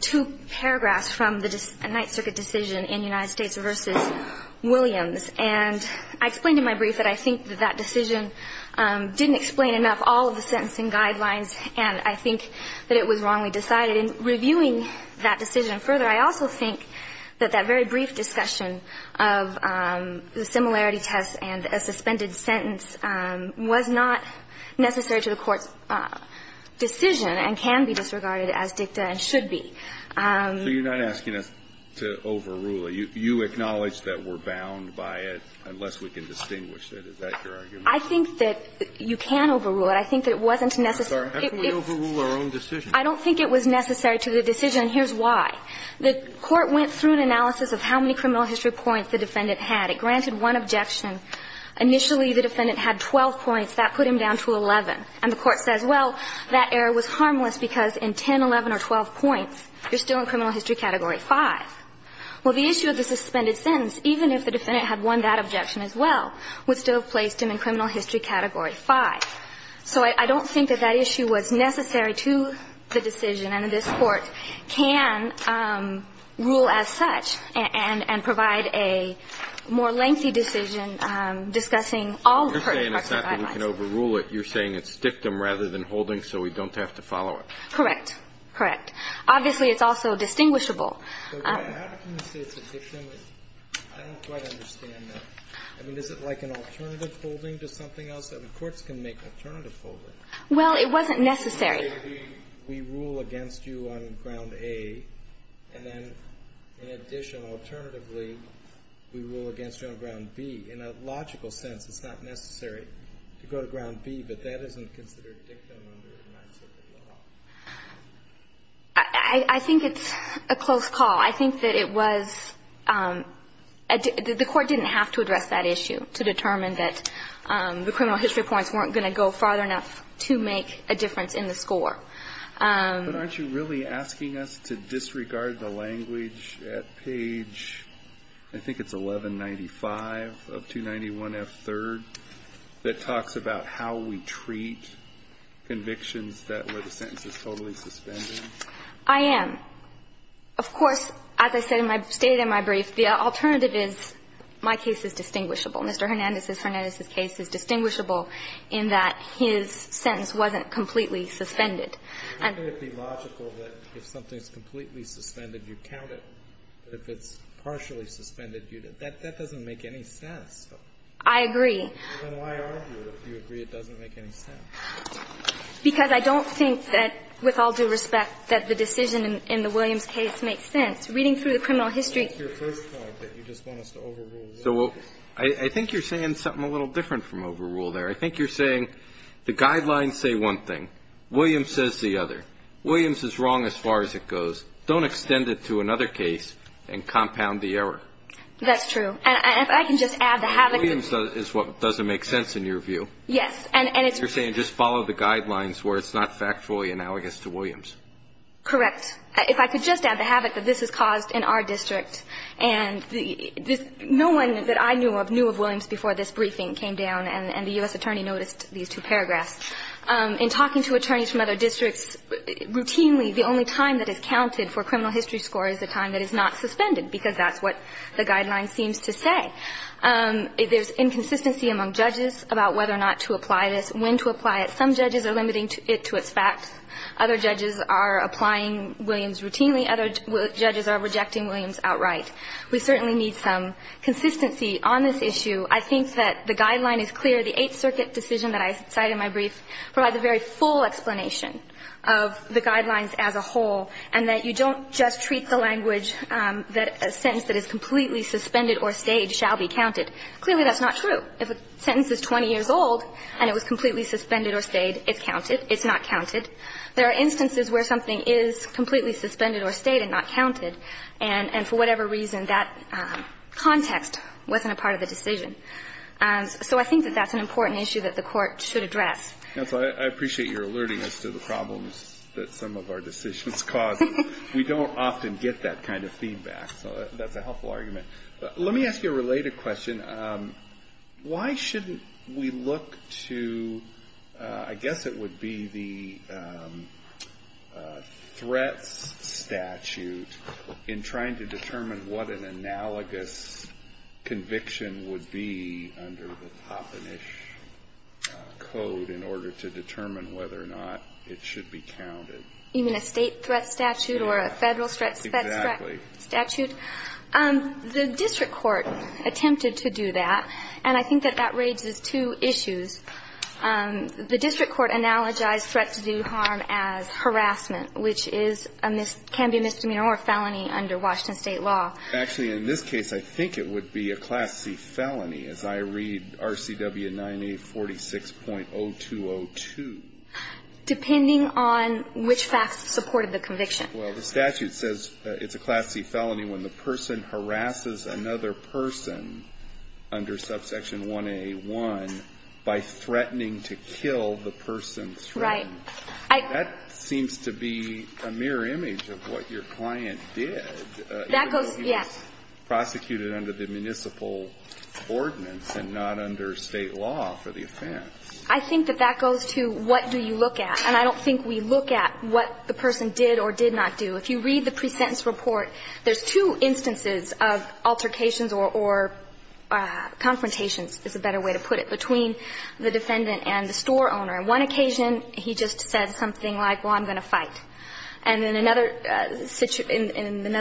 two paragraphs from the Ninth Circuit decision in United States v. Williams. And I explained in my brief that I think that that decision didn't explain enough all of the sentencing guidelines and I think that it was wrongly decided. In reviewing that decision further, I also think that that very brief discussion of the similarity test and a suspended sentence was not necessary to the Court's decision and can be disregarded as dicta and should be. So you're not asking us to overrule it. You acknowledge that we're bound by it unless we can distinguish it. Is that your argument? I think that you can overrule it. I think that it wasn't necessary. I'm sorry. How can we overrule our own decision? I don't think it was necessary to the decision, and here's why. The Court went through an analysis of how many criminal history points the defendant had. It granted one objection. Initially, the defendant had 12 points. That put him down to 11. And the Court says, well, that error was harmless because in 10, 11, or 12 points, you're still in criminal history category 5. Well, the issue of the suspended sentence, even if the defendant had won that objection as well, would still have placed him in criminal history category 5. So I don't think that that issue was necessary to the decision and that this Court can rule as such and provide a more lengthy decision discussing all the parts of that process. You're saying it's not that we can overrule it. You're saying it's dictum rather than holding so we don't have to follow it. Correct. Correct. Obviously, it's also distinguishable. But how can you say it's a dictum? I don't quite understand that. I mean, is it like an alternative holding to something else? I mean, courts can make alternative holdings. Well, it wasn't necessary. We rule against you on ground A, and then in addition, alternatively, we rule against you on ground B. In a logical sense, it's not necessary to go to ground B, but that isn't considered dictum under the Ninth Circuit law. I think it's a close call. I think that it was – the Court didn't have to address that issue to determine that the criminal history points weren't going to go far enough to make a difference in the score. But aren't you really asking us to disregard the language at page, I think it's 1195 of 291F3rd, that talks about how we treat convictions that where the sentence is totally suspended? I am. Of course, as I stated in my brief, the alternative is my case is distinguishable. Mr. Hernandez's case is distinguishable in that his sentence wasn't completely suspended. I think it would be logical that if something's completely suspended, you count it. But if it's partially suspended, that doesn't make any sense. I agree. Then why argue if you agree it doesn't make any sense? Because I don't think that, with all due respect, that the decision in the Williams case makes sense. Reading through the criminal history – That's your first point, that you just want us to overrule Williams. I think you're saying something a little different from overrule there. I think you're saying the guidelines say one thing. Williams says the other. Williams is wrong as far as it goes. Don't extend it to another case and compound the error. That's true. And if I can just add the havoc – Williams is what doesn't make sense in your view. Yes, and it's – You're saying just follow the guidelines where it's not factually analogous to Williams. Correct. If I could just add the havoc that this has caused in our district, and no one that I knew of knew of Williams before this briefing came down and the U.S. attorney noticed these two paragraphs. In talking to attorneys from other districts routinely, the only time that is counted for criminal history score is the time that is not suspended, because that's what the guidelines seems to say. There's inconsistency among judges about whether or not to apply this, when to apply it. Some judges are limiting it to its facts. Other judges are applying Williams routinely. Other judges are rejecting Williams outright. We certainly need some consistency on this issue. I think that the guideline is clear. The Eighth Circuit decision that I cited in my brief provides a very full explanation of the guidelines as a whole, and that you don't just treat the language that a sentence that is completely suspended or stayed shall be counted. Clearly, that's not true. If a sentence is 20 years old and it was completely suspended or stayed, it's counted, it's not counted. There are instances where something is completely suspended or stayed and not counted, and for whatever reason, that context wasn't a part of the decision. So I think that that's an important issue that the Court should address. And so I appreciate your alerting us to the problems that some of our decisions cause. We don't often get that kind of feedback, so that's a helpful argument. Let me ask you a related question. Why shouldn't we look to, I guess it would be the threats statute in trying to determine what an analogous conviction would be under the Toppenish Code in order to determine whether or not it should be counted? Even a state threat statute or a federal threat statute? The district court attempted to do that, and I think that that raises two issues. The district court analogized threat to do harm as harassment, which is a mis- can be a misdemeanor or a felony under Washington State law. Actually, in this case, I think it would be a Class C felony, as I read RCW 9846.0202. Depending on which facts supported the conviction. Well, the statute says it's a Class C felony when the person harasses another person under subsection 181 by threatening to kill the person's friend. Right. That seems to be a mirror image of what your client did. That goes, yes. Even though he was prosecuted under the municipal ordinance and not under State law for the offense. I think that that goes to what do you look at. And I don't think we look at what the person did or did not do. If you read the pre-sentence report, there's two instances of altercations or confrontations, is a better way to put it, between the defendant and the store owner. On one occasion, he just said something like, well, I'm going to fight. And in another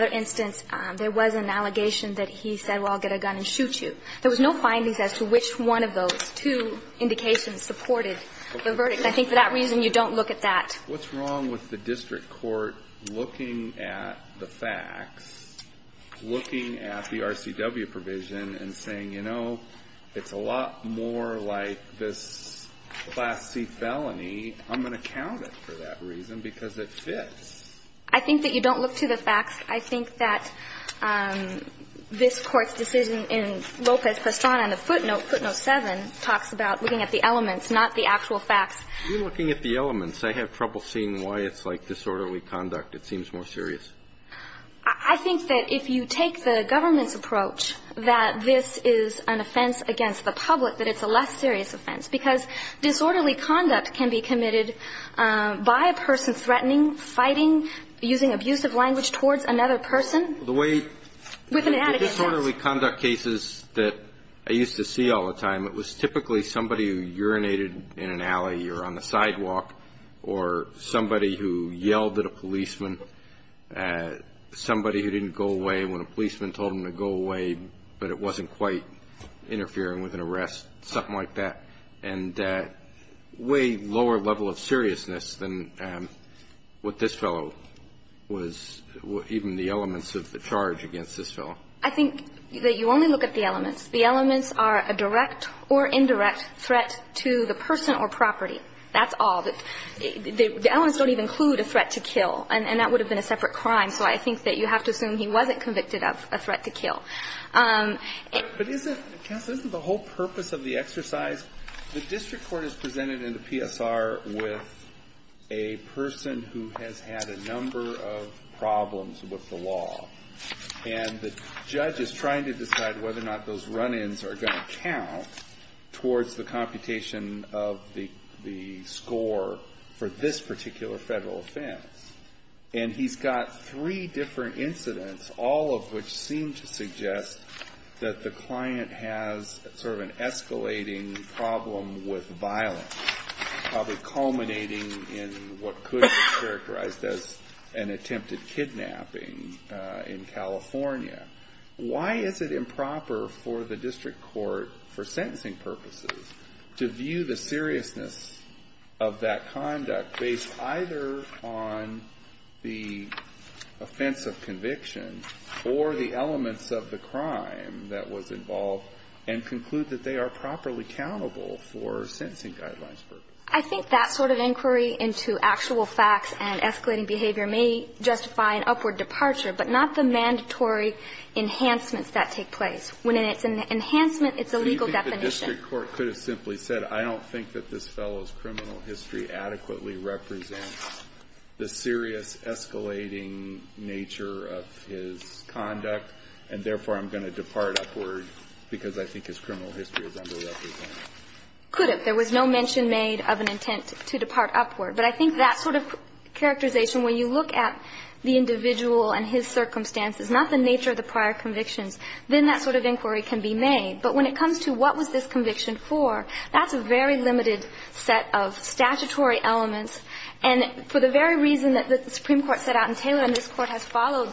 instance, there was an allegation that he said, well, I'll get a gun and shoot you. I think for that reason, you don't look at that. What's wrong with the district court looking at the facts, looking at the RCW provision, and saying, you know, it's a lot more like this Class C felony. I'm going to count it for that reason because it fits. I think that you don't look to the facts. I think that this Court's decision in Lopez-Pastrana in the footnote, footnote 11, I think it's more serious. I think that if you take the government's approach, that this is an offense against the public, that it's a less serious offense. Because disorderly conduct can be committed by a person threatening, fighting, using abusive language towards another person. The way the disorderly conduct cases that I used to see all the time, it was typically somebody who urinated in an alley or on the sidewalk, or somebody who yelled at a policeman, somebody who didn't go away when a policeman told them to go away, but it wasn't quite interfering with an arrest, something like that. And way lower level of seriousness than what this fellow was, even the elements of the charge against this fellow. I think that you only look at the elements. The elements are a direct or indirect threat to the person or property. That's all. The elements don't even include a threat to kill. And that would have been a separate crime. So I think that you have to assume he wasn't convicted of a threat to kill. Alitoson But isn't, counsel, isn't the whole purpose of the exercise, the district court is presented in the PSR with a person who has had a number of problems with the law. And the judge is trying to decide whether or not those run-ins are going to count towards the computation of the score for this particular federal offense. And he's got three different incidents, all of which seem to suggest that the client has sort of an escalating problem with violence, probably culminating in what could be characterized as an attempted kidnapping in California. Why is it improper for the district court for sentencing purposes to view the seriousness of that conduct based either on the offense of conviction or the elements of the crime that was involved and conclude that they are properly accountable for sentencing guidelines? I think that sort of inquiry into actual facts and escalating behavior may justify an upward departure, but not the mandatory enhancements that take place. When it's an enhancement, it's a legal definition. So you think the district court could have simply said, I don't think that this fellow's criminal history adequately represents the serious escalating nature of his conduct, and therefore I'm going to depart upward because I think his criminal history is underlying. Could have. There was no mention made of an intent to depart upward. But I think that sort of characterization, when you look at the individual and his circumstances, not the nature of the prior convictions, then that sort of inquiry can be made. But when it comes to what was this conviction for, that's a very limited set of statutory elements. And for the very reason that the Supreme Court set out in Taylor and this Court has followed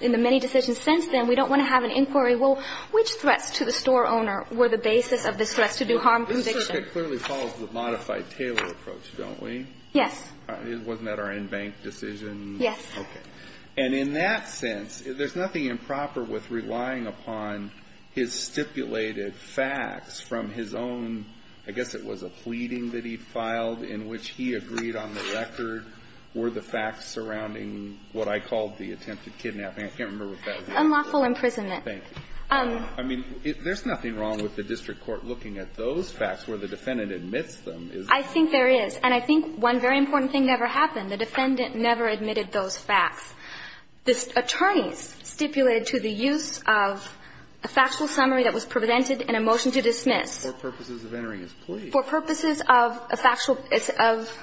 in the many decisions since then, we don't want to have an inquiry, well, which threats to the store owner were the basis of this threat to do harm conviction? The circuit clearly follows the modified Taylor approach, don't we? Yes. Wasn't that our in-bank decision? Yes. Okay. And in that sense, there's nothing improper with relying upon his stipulated facts from his own, I guess it was a pleading that he filed in which he agreed on the record were the facts surrounding what I called the attempted kidnapping. I can't remember what that was. Unlawful imprisonment. Thank you. I mean, there's nothing wrong with the district court looking at those facts where the defendant admits them, is there? I think there is. And I think one very important thing never happened. The defendant never admitted those facts. The attorneys stipulated to the use of a factual summary that was presented in a motion to dismiss. For purposes of entering his plea. For purposes of a factual, of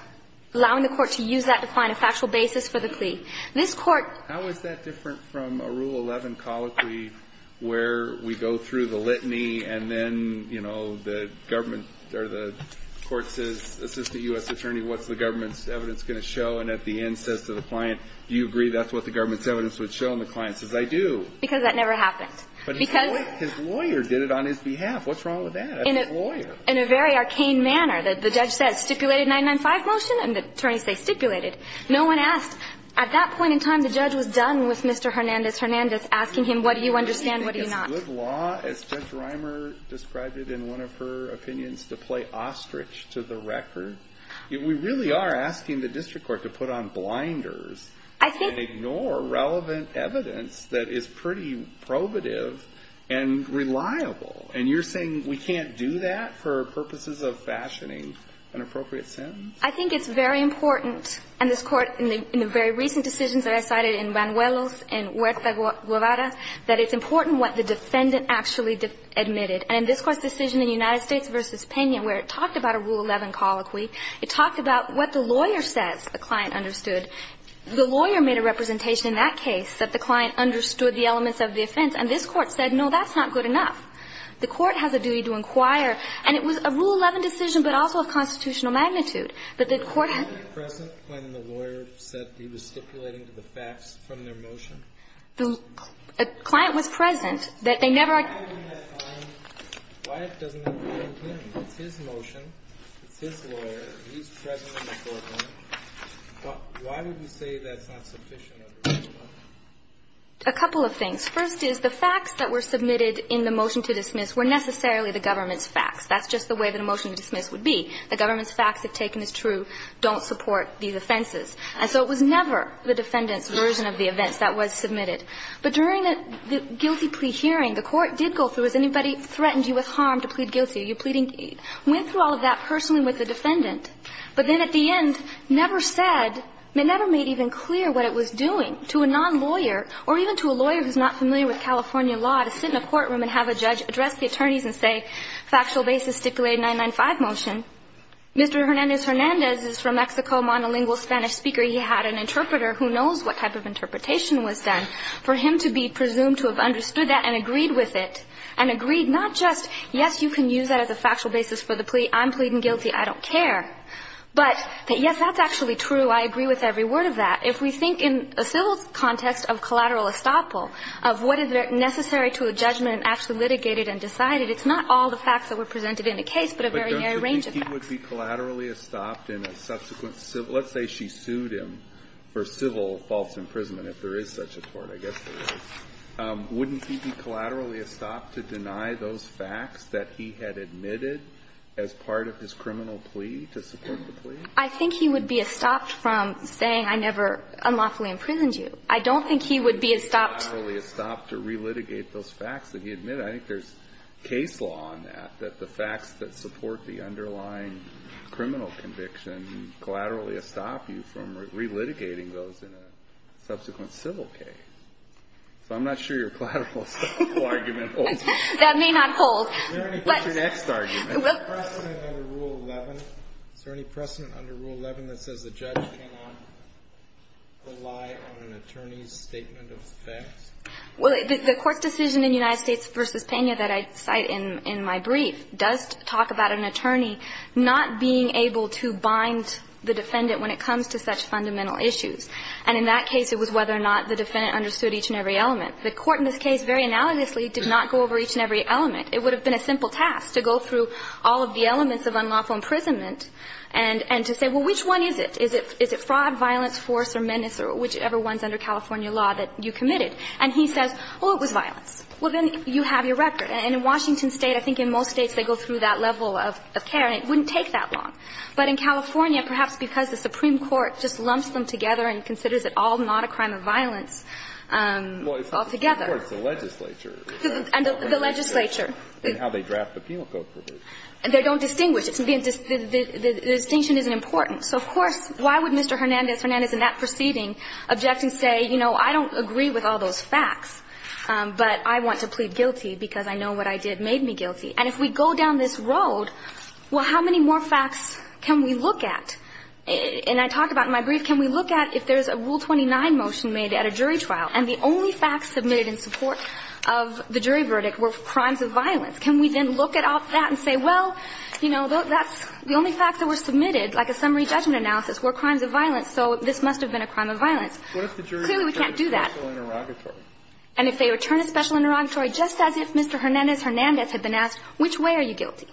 allowing the Court to use that to find a factual basis for the plea. This Court How is that different? From a Rule 11 colloquy where we go through the litany and then, you know, the government or the Court says, Assistant U.S. Attorney, what's the government's evidence going to show? And at the end says to the client, do you agree that's what the government's evidence would show? And the client says, I do. Because that never happened. But his lawyer did it on his behalf. What's wrong with that? In a very arcane manner. The judge says stipulated 995 motion and the attorneys say stipulated. No one asked. At that point in time, the judge was done with Mr. Hernandez. Hernandez asking him, what do you understand, what do you not? Alito I think it's good law, as Judge Reimer described it in one of her opinions, to play ostrich to the record. We really are asking the district court to put on blinders and ignore relevant evidence that is pretty probative and reliable. And you're saying we can't do that for purposes of fashioning an appropriate sentence? I think it's very important. And this Court, in the very recent decisions that I cited in Banuelos and Huerta Guevara, that it's important what the defendant actually admitted. And in this Court's decision in United States v. Pena, where it talked about a Rule XI colloquy, it talked about what the lawyer says the client understood. The lawyer made a representation in that case that the client understood the elements of the offense. And this Court said, no, that's not good enough. The Court has a duty to inquire. And it was a Rule XI decision, but also of constitutional magnitude. But the Court had to do that. The client was present when the lawyer said he was stipulating the facts from their motion? The client was present. Why doesn't that apply to him? It's his motion. It's his lawyer. He's present in the courtroom. Why would you say that's not sufficient? A couple of things. First is the facts that were submitted in the motion to dismiss were necessarily the government's facts. That's just the way that a motion to dismiss would be. The government's facts, if taken as true, don't support these offenses. And so it was never the defendant's version of the events that was submitted. But during the guilty plea hearing, the Court did go through, has anybody threatened you with harm to plead guilty? Are you pleading guilty? Went through all of that personally with the defendant, but then at the end never said, never made even clear what it was doing to a nonlawyer or even to a lawyer who's not familiar with California law to sit in a courtroom and have a judge address the attorneys and say, factual basis stipulated 995 motion. Mr. Hernandez-Hernandez is from Mexico, monolingual Spanish speaker. He had an interpreter who knows what type of interpretation was done. For him to be presumed to have understood that and agreed with it, and agreed not just, yes, you can use that as a factual basis for the plea, I'm pleading guilty, I don't care. But that, yes, that's actually true. I agree with every word of that. If we think in a civil context of collateral estoppel, of what is necessary to a judgment actually litigated and decided, it's not all the facts that were presented in the case. Kennedy would be collaterally estopped in a subsequent civil – let's say she sued him for civil false imprisonment if there is such a tort, I guess there is. Wouldn't he be collaterally estopped to deny those facts that he had admitted as part of his criminal plea to support the plea? I think he would be estopped from saying, I never unlawfully imprisoned you. I don't think he would be estopped. Collaterally estopped to relitigate those facts that he admitted. I think there is case law on that, that the facts that support the underlying criminal conviction collaterally estop you from relitigating those in a subsequent civil case. So I'm not sure your collateral estoppel argument holds. That may not hold. Is there any precedent under Rule 11? Is there any precedent under Rule 11 that says the judge cannot rely on an attorney's statement of facts? Well, the Court's decision in United States v. Pena that I cite in my brief does talk about an attorney not being able to bind the defendant when it comes to such fundamental issues, and in that case it was whether or not the defendant understood each and every element. The Court in this case very analogously did not go over each and every element. It would have been a simple task to go through all of the elements of unlawful imprisonment and to say, well, which one is it? Is it fraud, violence, force or menace or whichever one is under California law that you committed? And he says, well, it was violence. Well, then you have your record. And in Washington State, I think in most states they go through that level of care and it wouldn't take that long. But in California, perhaps because the Supreme Court just lumps them together and considers it all not a crime of violence altogether. Well, it's not the Supreme Court. It's the legislature. And the legislature. And how they draft the Penal Code provision. They don't distinguish. The distinction isn't important. So of course, why would Mr. Hernandez, Hernandez in that proceeding, object and say, you know, I don't agree with all those facts, but I want to plead guilty because I know what I did made me guilty. And if we go down this road, well, how many more facts can we look at? And I talked about it in my brief. Can we look at if there's a Rule 29 motion made at a jury trial and the only facts submitted in support of the jury verdict were crimes of violence. Can we then look at all that and say, well, you know, that's the only facts that were submitted, like a summary judgment analysis, were crimes of violence. So this must have been a crime of violence. Clearly, we can't do that. And if they return a special interrogatory, just as if Mr. Hernandez, Hernandez had been asked, which way are you guilty?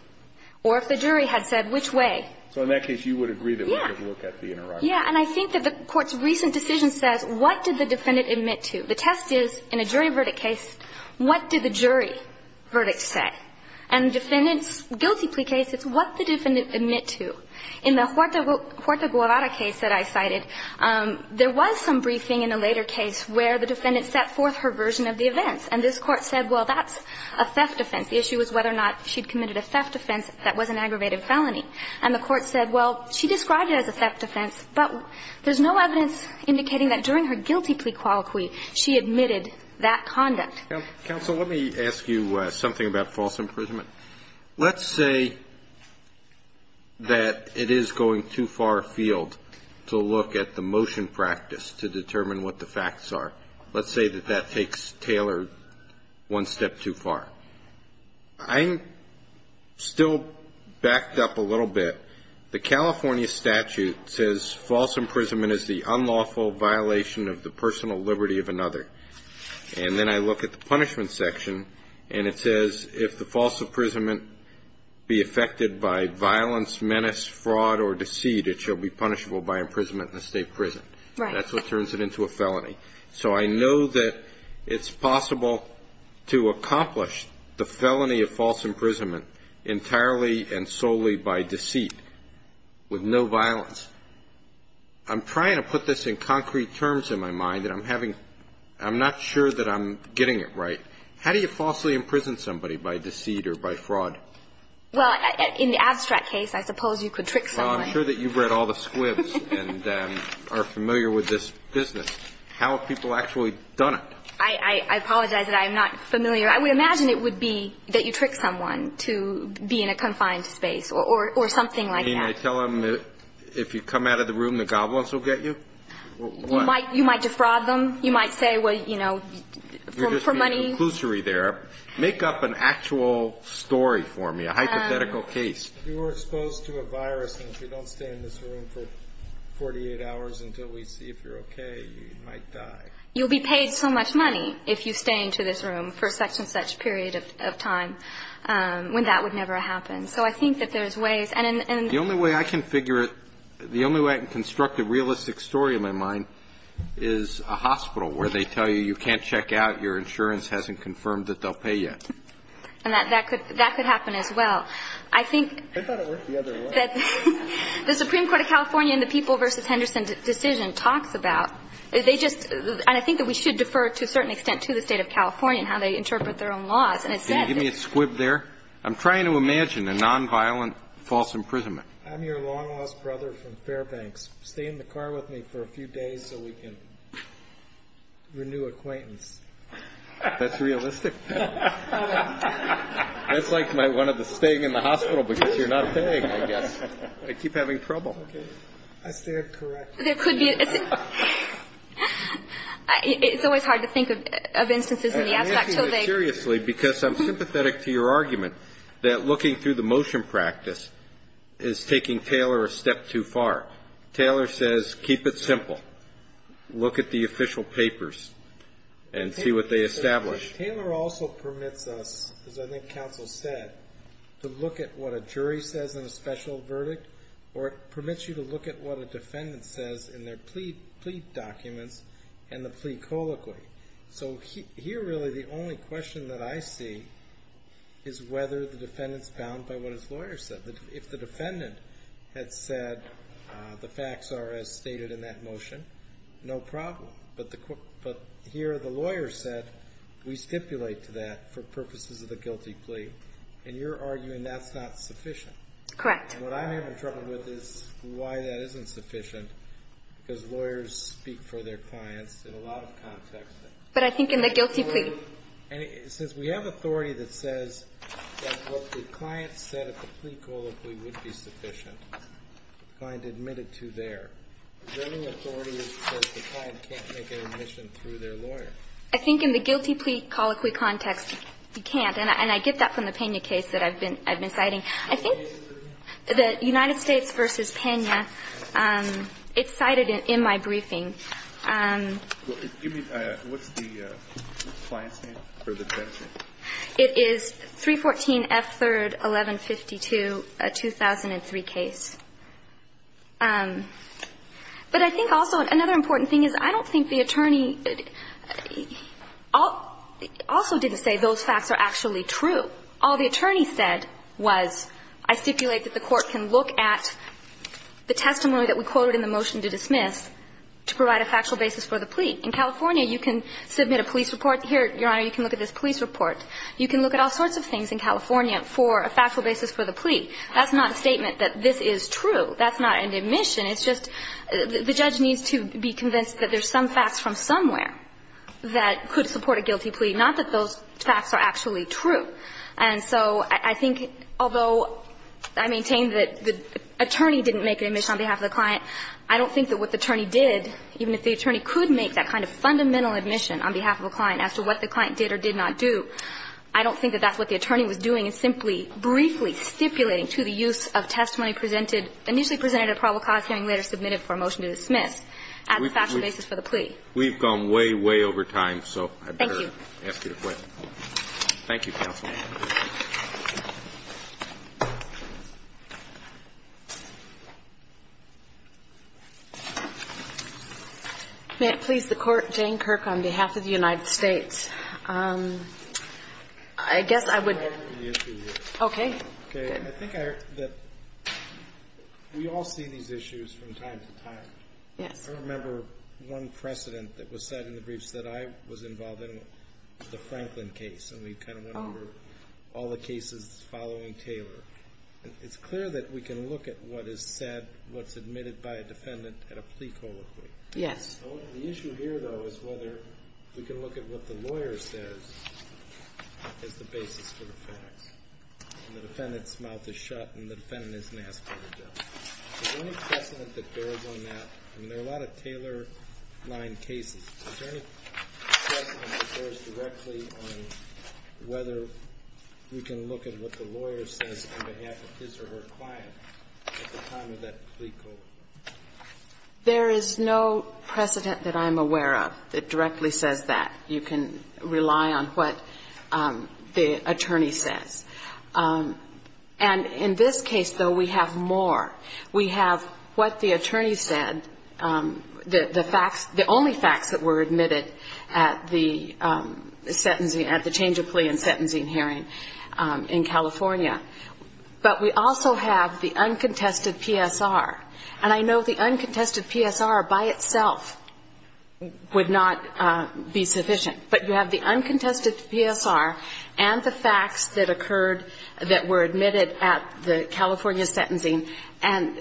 Or if the jury had said, which way? So in that case, you would agree that we could look at the interrogatory. Yeah. And I think that the Court's recent decision says, what did the defendant admit to? The test is, in a jury verdict case, what did the jury verdict say? And the defendant's guilty plea case, it's what the defendant admit to. In the Huerta Guevara case that I cited, there was some briefing in a later case where the defendant set forth her version of the events. And this Court said, well, that's a theft offense. The issue was whether or not she'd committed a theft offense that was an aggravated felony. And the Court said, well, she described it as a theft offense, but there's no evidence indicating that during her guilty plea colloquy, she admitted that conduct. Counsel, let me ask you something about false imprisonment. Let's say that it is going too far afield to look at the motion practice to determine what the facts are. Let's say that that takes Taylor one step too far. I'm still backed up a little bit. The California statute says false imprisonment is the unlawful violation of the personal liberty of another. And then I look at the punishment section, and it says if the false imprisonment be affected by violence, menace, fraud, or deceit, it shall be punishable by imprisonment in a state prison. Right. That's what turns it into a felony. So I know that it's possible to accomplish the felony of false imprisonment entirely and solely by deceit with no violence. I'm trying to put this in concrete terms in my mind, and I'm having – I'm not sure that I'm getting it right. How do you falsely imprison somebody by deceit or by fraud? Well, in the abstract case, I suppose you could trick someone. Well, I'm sure that you've read all the squibs and are familiar with this business. How have people actually done it? I apologize that I am not familiar. I would imagine it would be that you trick someone to be in a confined space or something like that. Can I tell them that if you come out of the room, the goblins will get you? What? You might defraud them. You might say, well, you know, for money. You're just being a conclusory there. Make up an actual story for me, a hypothetical case. If you were exposed to a virus and if you don't stay in this room for 48 hours until we see if you're okay, you might die. You'll be paid so much money if you stay in this room for such and such period of time when that would never happen. So I think that there's ways. The only way I can figure it, the only way I can construct a realistic story in my mind is a hospital where they tell you you can't check out, your insurance hasn't confirmed that they'll pay you. And that could happen as well. I think that the Supreme Court of California and the People v. Henderson decision talks about, they just, and I think that we should defer to a certain extent to the State of California and how they interpret their own laws. Can you give me a squib there? I'm trying to imagine a nonviolent false imprisonment. I'm your long-lost brother from Fairbanks. Stay in the car with me for a few days so we can renew acquaintance. That's realistic. That's like my one of the staying in the hospital because you're not paying, I guess. I keep having trouble. I stand corrected. There could be. It's always hard to think of instances in the aspect. I'm taking it seriously because I'm sympathetic to your argument that looking through the motion practice is taking Taylor a step too far. Taylor says keep it simple. Look at the official papers and see what they establish. Taylor also permits us, as I think counsel said, to look at what a jury says in a special verdict, or it permits you to look at what a defendant says in their plea documents and the plea colloquy. Here, really, the only question that I see is whether the defendant's bound by what his lawyer said. If the defendant had said the facts are as stated in that motion, no problem. But here the lawyer said we stipulate to that for purposes of the guilty plea, and you're arguing that's not sufficient. Correct. What I'm having trouble with is why that isn't sufficient because lawyers speak for their But I think in the guilty plea. And it says we have authority that says that what the client said at the plea colloquy would be sufficient. The client admitted to there. Is there any authority that says the client can't make an admission through their lawyer? I think in the guilty plea colloquy context, you can't. And I get that from the Pena case that I've been citing. I think the United States v. Pena, it's cited in my briefing. What's the client's name for the Pena case? It is 314F3-1152, a 2003 case. But I think also another important thing is I don't think the attorney also didn't say those facts are actually true. All the attorney said was I stipulate that the court can look at the testimony that we quoted in the motion to dismiss to provide a factual basis for the plea. In California, you can submit a police report. Here, Your Honor, you can look at this police report. You can look at all sorts of things in California for a factual basis for the plea. That's not a statement that this is true. That's not an admission. It's just the judge needs to be convinced that there's some facts from somewhere that could support a guilty plea, not that those facts are actually true. And so I think although I maintain that the attorney didn't make an admission on behalf of the client, I don't think that what the attorney did, even if the attorney could make that kind of fundamental admission on behalf of a client as to what the client did or did not do, I don't think that that's what the attorney was doing in simply briefly stipulating to the use of testimony presented, initially presented at probable cause hearing, later submitted for a motion to dismiss as a factual basis for the plea. We've gone way, way over time, so I'd better ask you a question. Thank you. Thank you, Counsel. May it please the Court? Jane Kirk on behalf of the United States. I guess I would. Okay. Okay. I think that we all see these issues from time to time. Yes. I remember one precedent that was said in the briefs that I was involved in, the Franklin case. And we kind of went over all the cases following Taylor. It's clear that we can look at what is said, what's admitted by a defendant at a plea colloquy. Yes. The issue here, though, is whether we can look at what the lawyer says as the basis for the facts. And the defendant's mouth is shut and the defendant isn't asked for the judge. Is there any precedent that bears on that? I mean, there are a lot of Taylor-line cases. Is there any precedent that bears directly on whether we can look at what the lawyer says on behalf of his or her client at the time of that plea colloquy? There is no precedent that I'm aware of that directly says that. You can rely on what the attorney says. And in this case, though, we have more. We have what the attorney said, the facts, the only facts that were admitted at the change of plea and sentencing hearing in California. But we also have the uncontested PSR. And I know the uncontested PSR by itself would not be sufficient. But you have the uncontested PSR and the facts that occurred, that were admitted at the California sentencing. I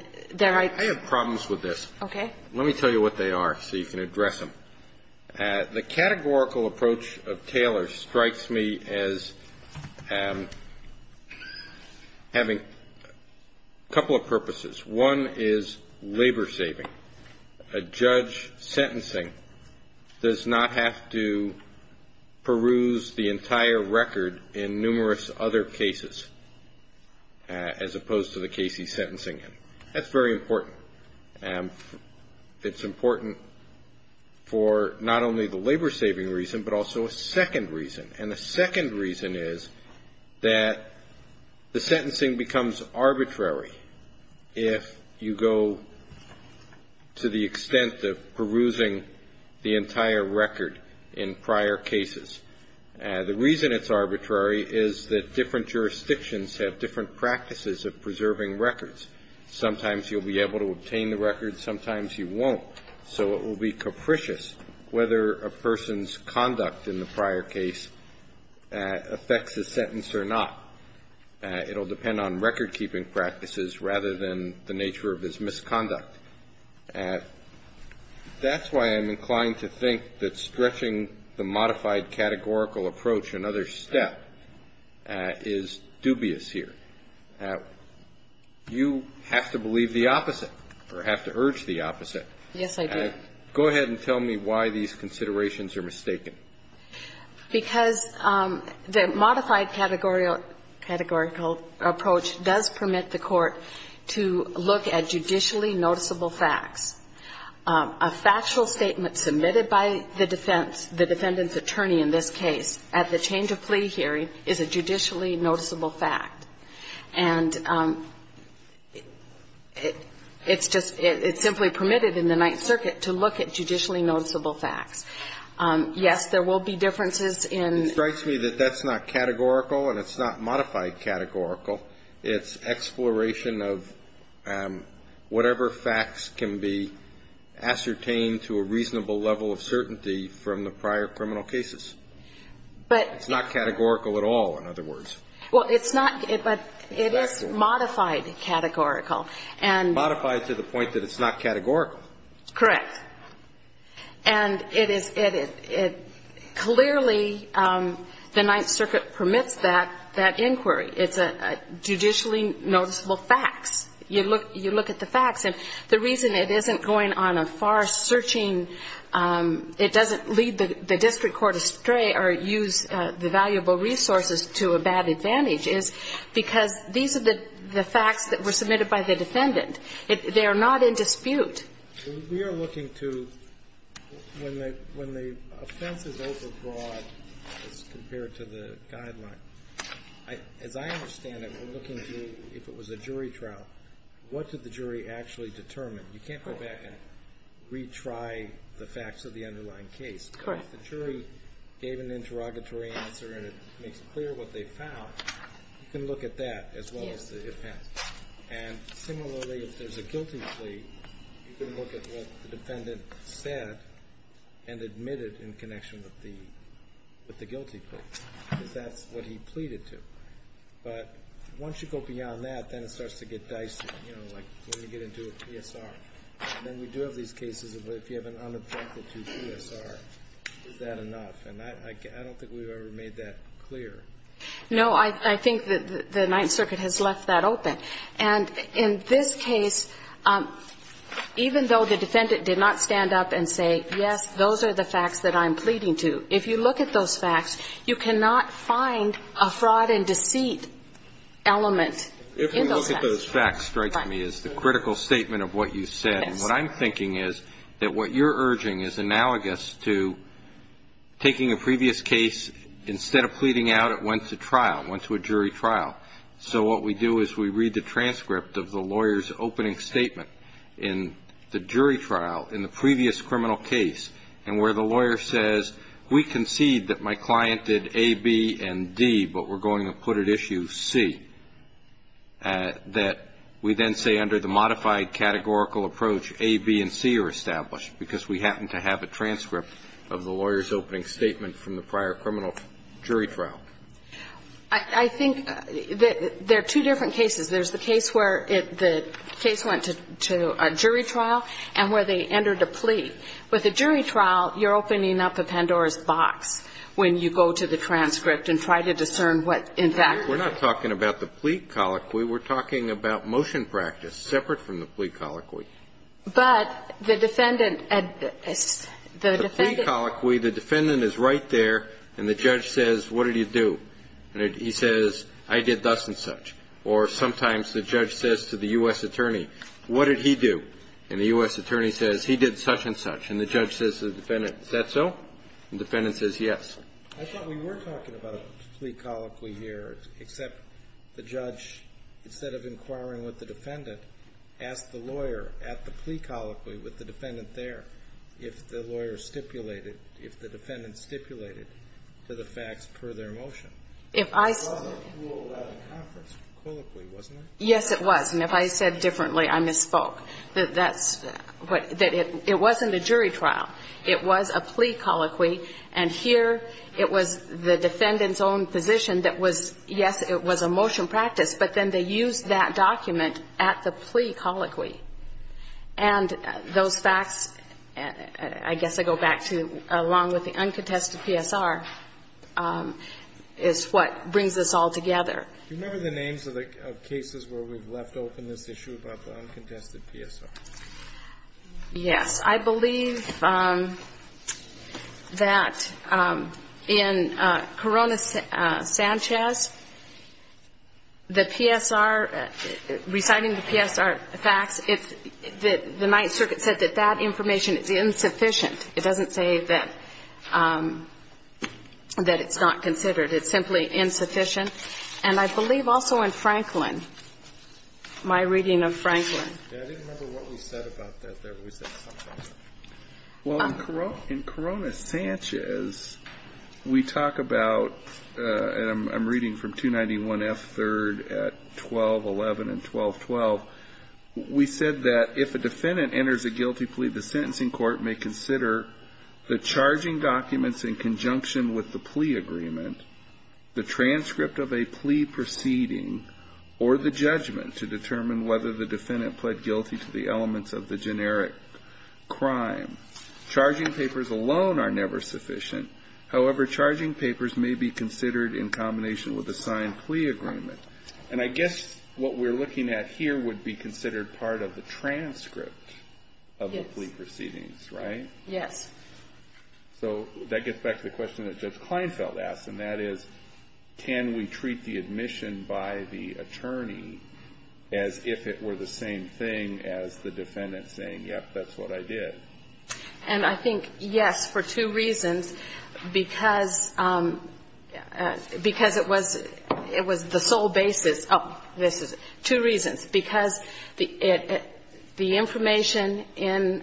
have problems with this. Okay. Let me tell you what they are so you can address them. The categorical approach of Taylor strikes me as having a couple of purposes. One is labor saving. A judge sentencing does not have to peruse the entire record in numerous other cases, as opposed to the case he's sentencing in. That's very important. It's important for not only the labor saving reason, but also a second reason. And the second reason is that the sentencing becomes arbitrary. If you go to the extent of perusing the entire record in prior cases, the reason it's arbitrary is that different jurisdictions have different practices of preserving records. Sometimes you'll be able to obtain the record, sometimes you won't. So it will be capricious whether a person's conduct in the prior case affects a sentence or not. It will depend on recordkeeping practices rather than the nature of his misconduct. That's why I'm inclined to think that stretching the modified categorical approach, another step, is dubious here. You have to believe the opposite or have to urge the opposite. Yes, I do. Go ahead and tell me why these considerations are mistaken. Because the modified categorical approach does permit the court to look at judicially noticeable facts. A factual statement submitted by the defense, the defendant's attorney in this case at the change of plea hearing is a judicially noticeable fact. And it's just — it's simply permitted in the Ninth Circuit to look at judicially noticeable facts. Yes, there will be differences in — It strikes me that that's not categorical and it's not modified categorical. It's exploration of whatever facts can be ascertained to a reasonable level of certainty from the prior criminal cases. But — It's not categorical at all, in other words. Well, it's not, but it is modified categorical. And — Modified to the point that it's not categorical. Correct. And it is — it — it — clearly, the Ninth Circuit permits that, that inquiry. It's a judicially noticeable fact. You look — you look at the facts. And the reason it isn't going on a far-searching — it doesn't lead the district court astray or use the valuable resources to a bad advantage is because these are the facts that were submitted by the defendant. They are not in dispute. We are looking to — when the — when the offense is overbroad as compared to the guideline, as I understand it, we're looking to, if it was a jury trial, what did the jury actually determine? You can't go back and retry the facts of the underlying case. Correct. But if the jury gave an interrogatory answer and it makes clear what they found, you can look at that as well as the offense. Yes. And similarly, if there's a guilty plea, you can look at what the defendant said and admitted in connection with the — with the guilty plea, because that's what he pleaded to. But once you go beyond that, then it starts to get dicey, you know, like when you get into a PSR. And then we do have these cases of if you have an unobjective PSR, is that enough? And I don't think we've ever made that clear. No. I think that the Ninth Circuit has left that open. And in this case, even though the defendant did not stand up and say, yes, those are the facts that I'm pleading to, if you look at those facts, you cannot find a fraud and deceit element in those facts. If we look at those facts, strikes me, is the critical statement of what you said. Yes. And what I'm thinking is that what you're urging is analogous to taking a previous case, instead of pleading out, it went to trial, went to a jury trial. So what we do is we read the transcript of the lawyer's opening statement in the jury trial in the previous criminal case, and where the lawyer says, we concede that my client did A, B, and D, but we're going to put at issue C. That we then say under the modified categorical approach, A, B, and C are established, because we happen to have a transcript of the lawyer's opening statement from the prior criminal jury trial. I think there are two different cases. There's the case where the case went to a jury trial and where they entered a plea. With a jury trial, you're opening up a Pandora's box when you go to the transcript and try to discern what, in fact, the case is. We're not talking about the plea colloquy. We're talking about motion practice separate from the plea colloquy. But the defendant at the defendant. The plea colloquy, the defendant is right there, and the judge says, what did he do? And he says, I did thus and such. Or sometimes the judge says to the U.S. attorney, what did he do? And the U.S. attorney says, he did such and such. And the judge says to the defendant, is that so? And the defendant says, yes. I thought we were talking about a plea colloquy here, except the judge, instead of inquiring with the defendant, asked the lawyer at the plea colloquy with the defendant there if the lawyer stipulated, if the defendant stipulated to the facts per their motion. It wasn't ruled out in conference colloquy, wasn't it? Yes, it was. And if I said differently, I misspoke. That's what the jury trial. It was a plea colloquy. And here it was the defendant's own position that was, yes, it was a motion practice, but then they used that document at the plea colloquy. And those facts, I guess I go back to, along with the uncontested PSR, is what brings this all together. Do you remember the names of cases where we've left open this issue about the uncontested PSR? Yes. I believe that in Corona-Sanchez, the PSR, reciting the PSR facts, the Ninth Circuit said that that information is insufficient. It doesn't say that it's not considered. It's simply insufficient. And I believe also in Franklin, my reading of Franklin. I didn't remember what we said about that there. We said something. Well, in Corona-Sanchez, we talk about, and I'm reading from 291 F. 3rd at 1211 and 1212. We said that if a defendant enters a guilty plea, the sentencing court may consider the charging documents in conjunction with the plea agreement, the transcript of a plea proceeding, or the judgment to determine whether the defendant pled guilty to the elements of the generic crime. Charging papers alone are never sufficient. However, charging papers may be considered in combination with a signed plea agreement. And I guess what we're looking at here would be considered part of the transcript of the plea proceedings, right? Yes. So that gets back to the question that Judge Kleinfeld asked, and that is, can we treat the admission by the attorney as if it were the same thing as the defendant saying, yes, that's what I did? And I think, yes, for two reasons. Because it was the sole basis of this. Two reasons. Because the information in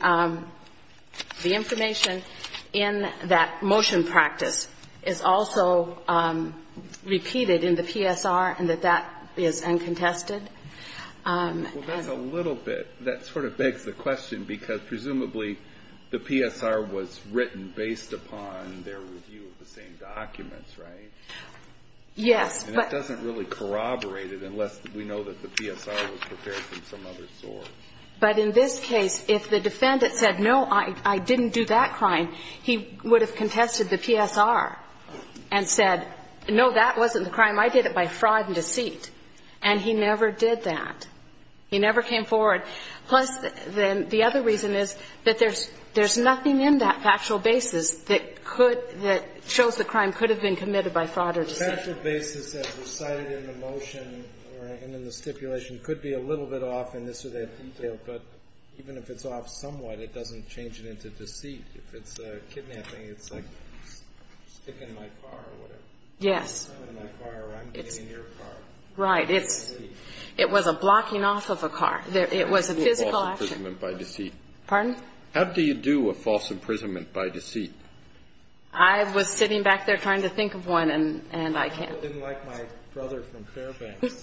that motion practice is also repeated in the PSR and that that is uncontested. Well, that's a little bit. That sort of begs the question, because presumably the PSR was written based upon their review of the same documents, right? Yes. And it doesn't really corroborate it unless we know that the PSR was prepared from some other source. But in this case, if the defendant said, no, I didn't do that crime, he would have contested the PSR and said, no, that wasn't the crime, I did it by fraud and deceit. And he never did that. He never came forward. Plus, then the other reason is that there's nothing in that factual basis that could The factual basis that was cited in the motion or in the stipulation could be a little bit off in this or that detail. But even if it's off somewhat, it doesn't change it into deceit. If it's kidnapping, it's like sticking my car or whatever. Yes. Or I'm getting your car. Right. It was a blocking off of a car. It was a physical action. How do you do a false imprisonment by deceit? Pardon? How do you do a false imprisonment by deceit? I was sitting back there trying to think of one, and I can't. I didn't like my brother from Fairbanks.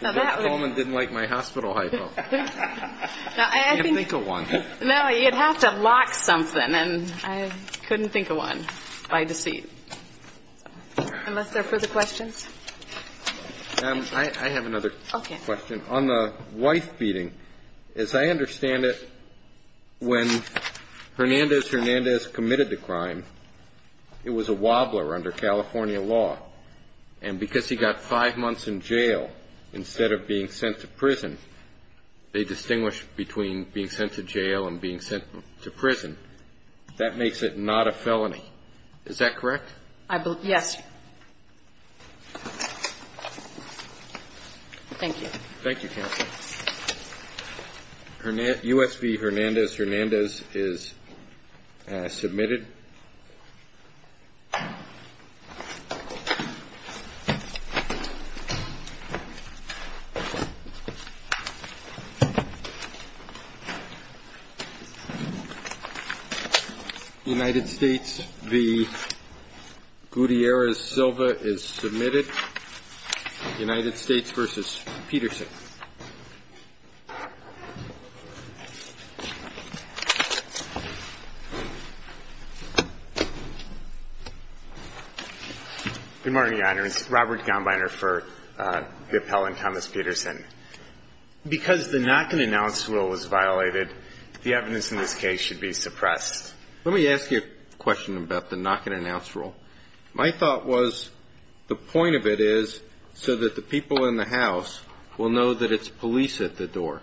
The gentleman didn't like my hospital hypo. I can't think of one. No, you'd have to lock something. And I couldn't think of one by deceit. Unless there are further questions. I have another question. Okay. I have a question on the wife beating. As I understand it, when Hernandez-Hernandez committed the crime, it was a wobbler under California law. And because he got five months in jail instead of being sent to prison, they distinguish between being sent to jail and being sent to prison. That makes it not a felony. Is that correct? Yes. Thank you. Thank you, Counsel. U.S. v. Hernandez-Hernandez is submitted. United States v. Gutierrez-Silva is submitted. United States v. Peterson. Good morning, Your Honors. Robert Gombiner for the appellant, Thomas Peterson. Because the not-going-to-announce rule was violated, the evidence in this case should be suppressed. Let me ask you a question about the not-going-to-announce rule. My thought was the point of it is so that the people in the house will know that it's police at the door.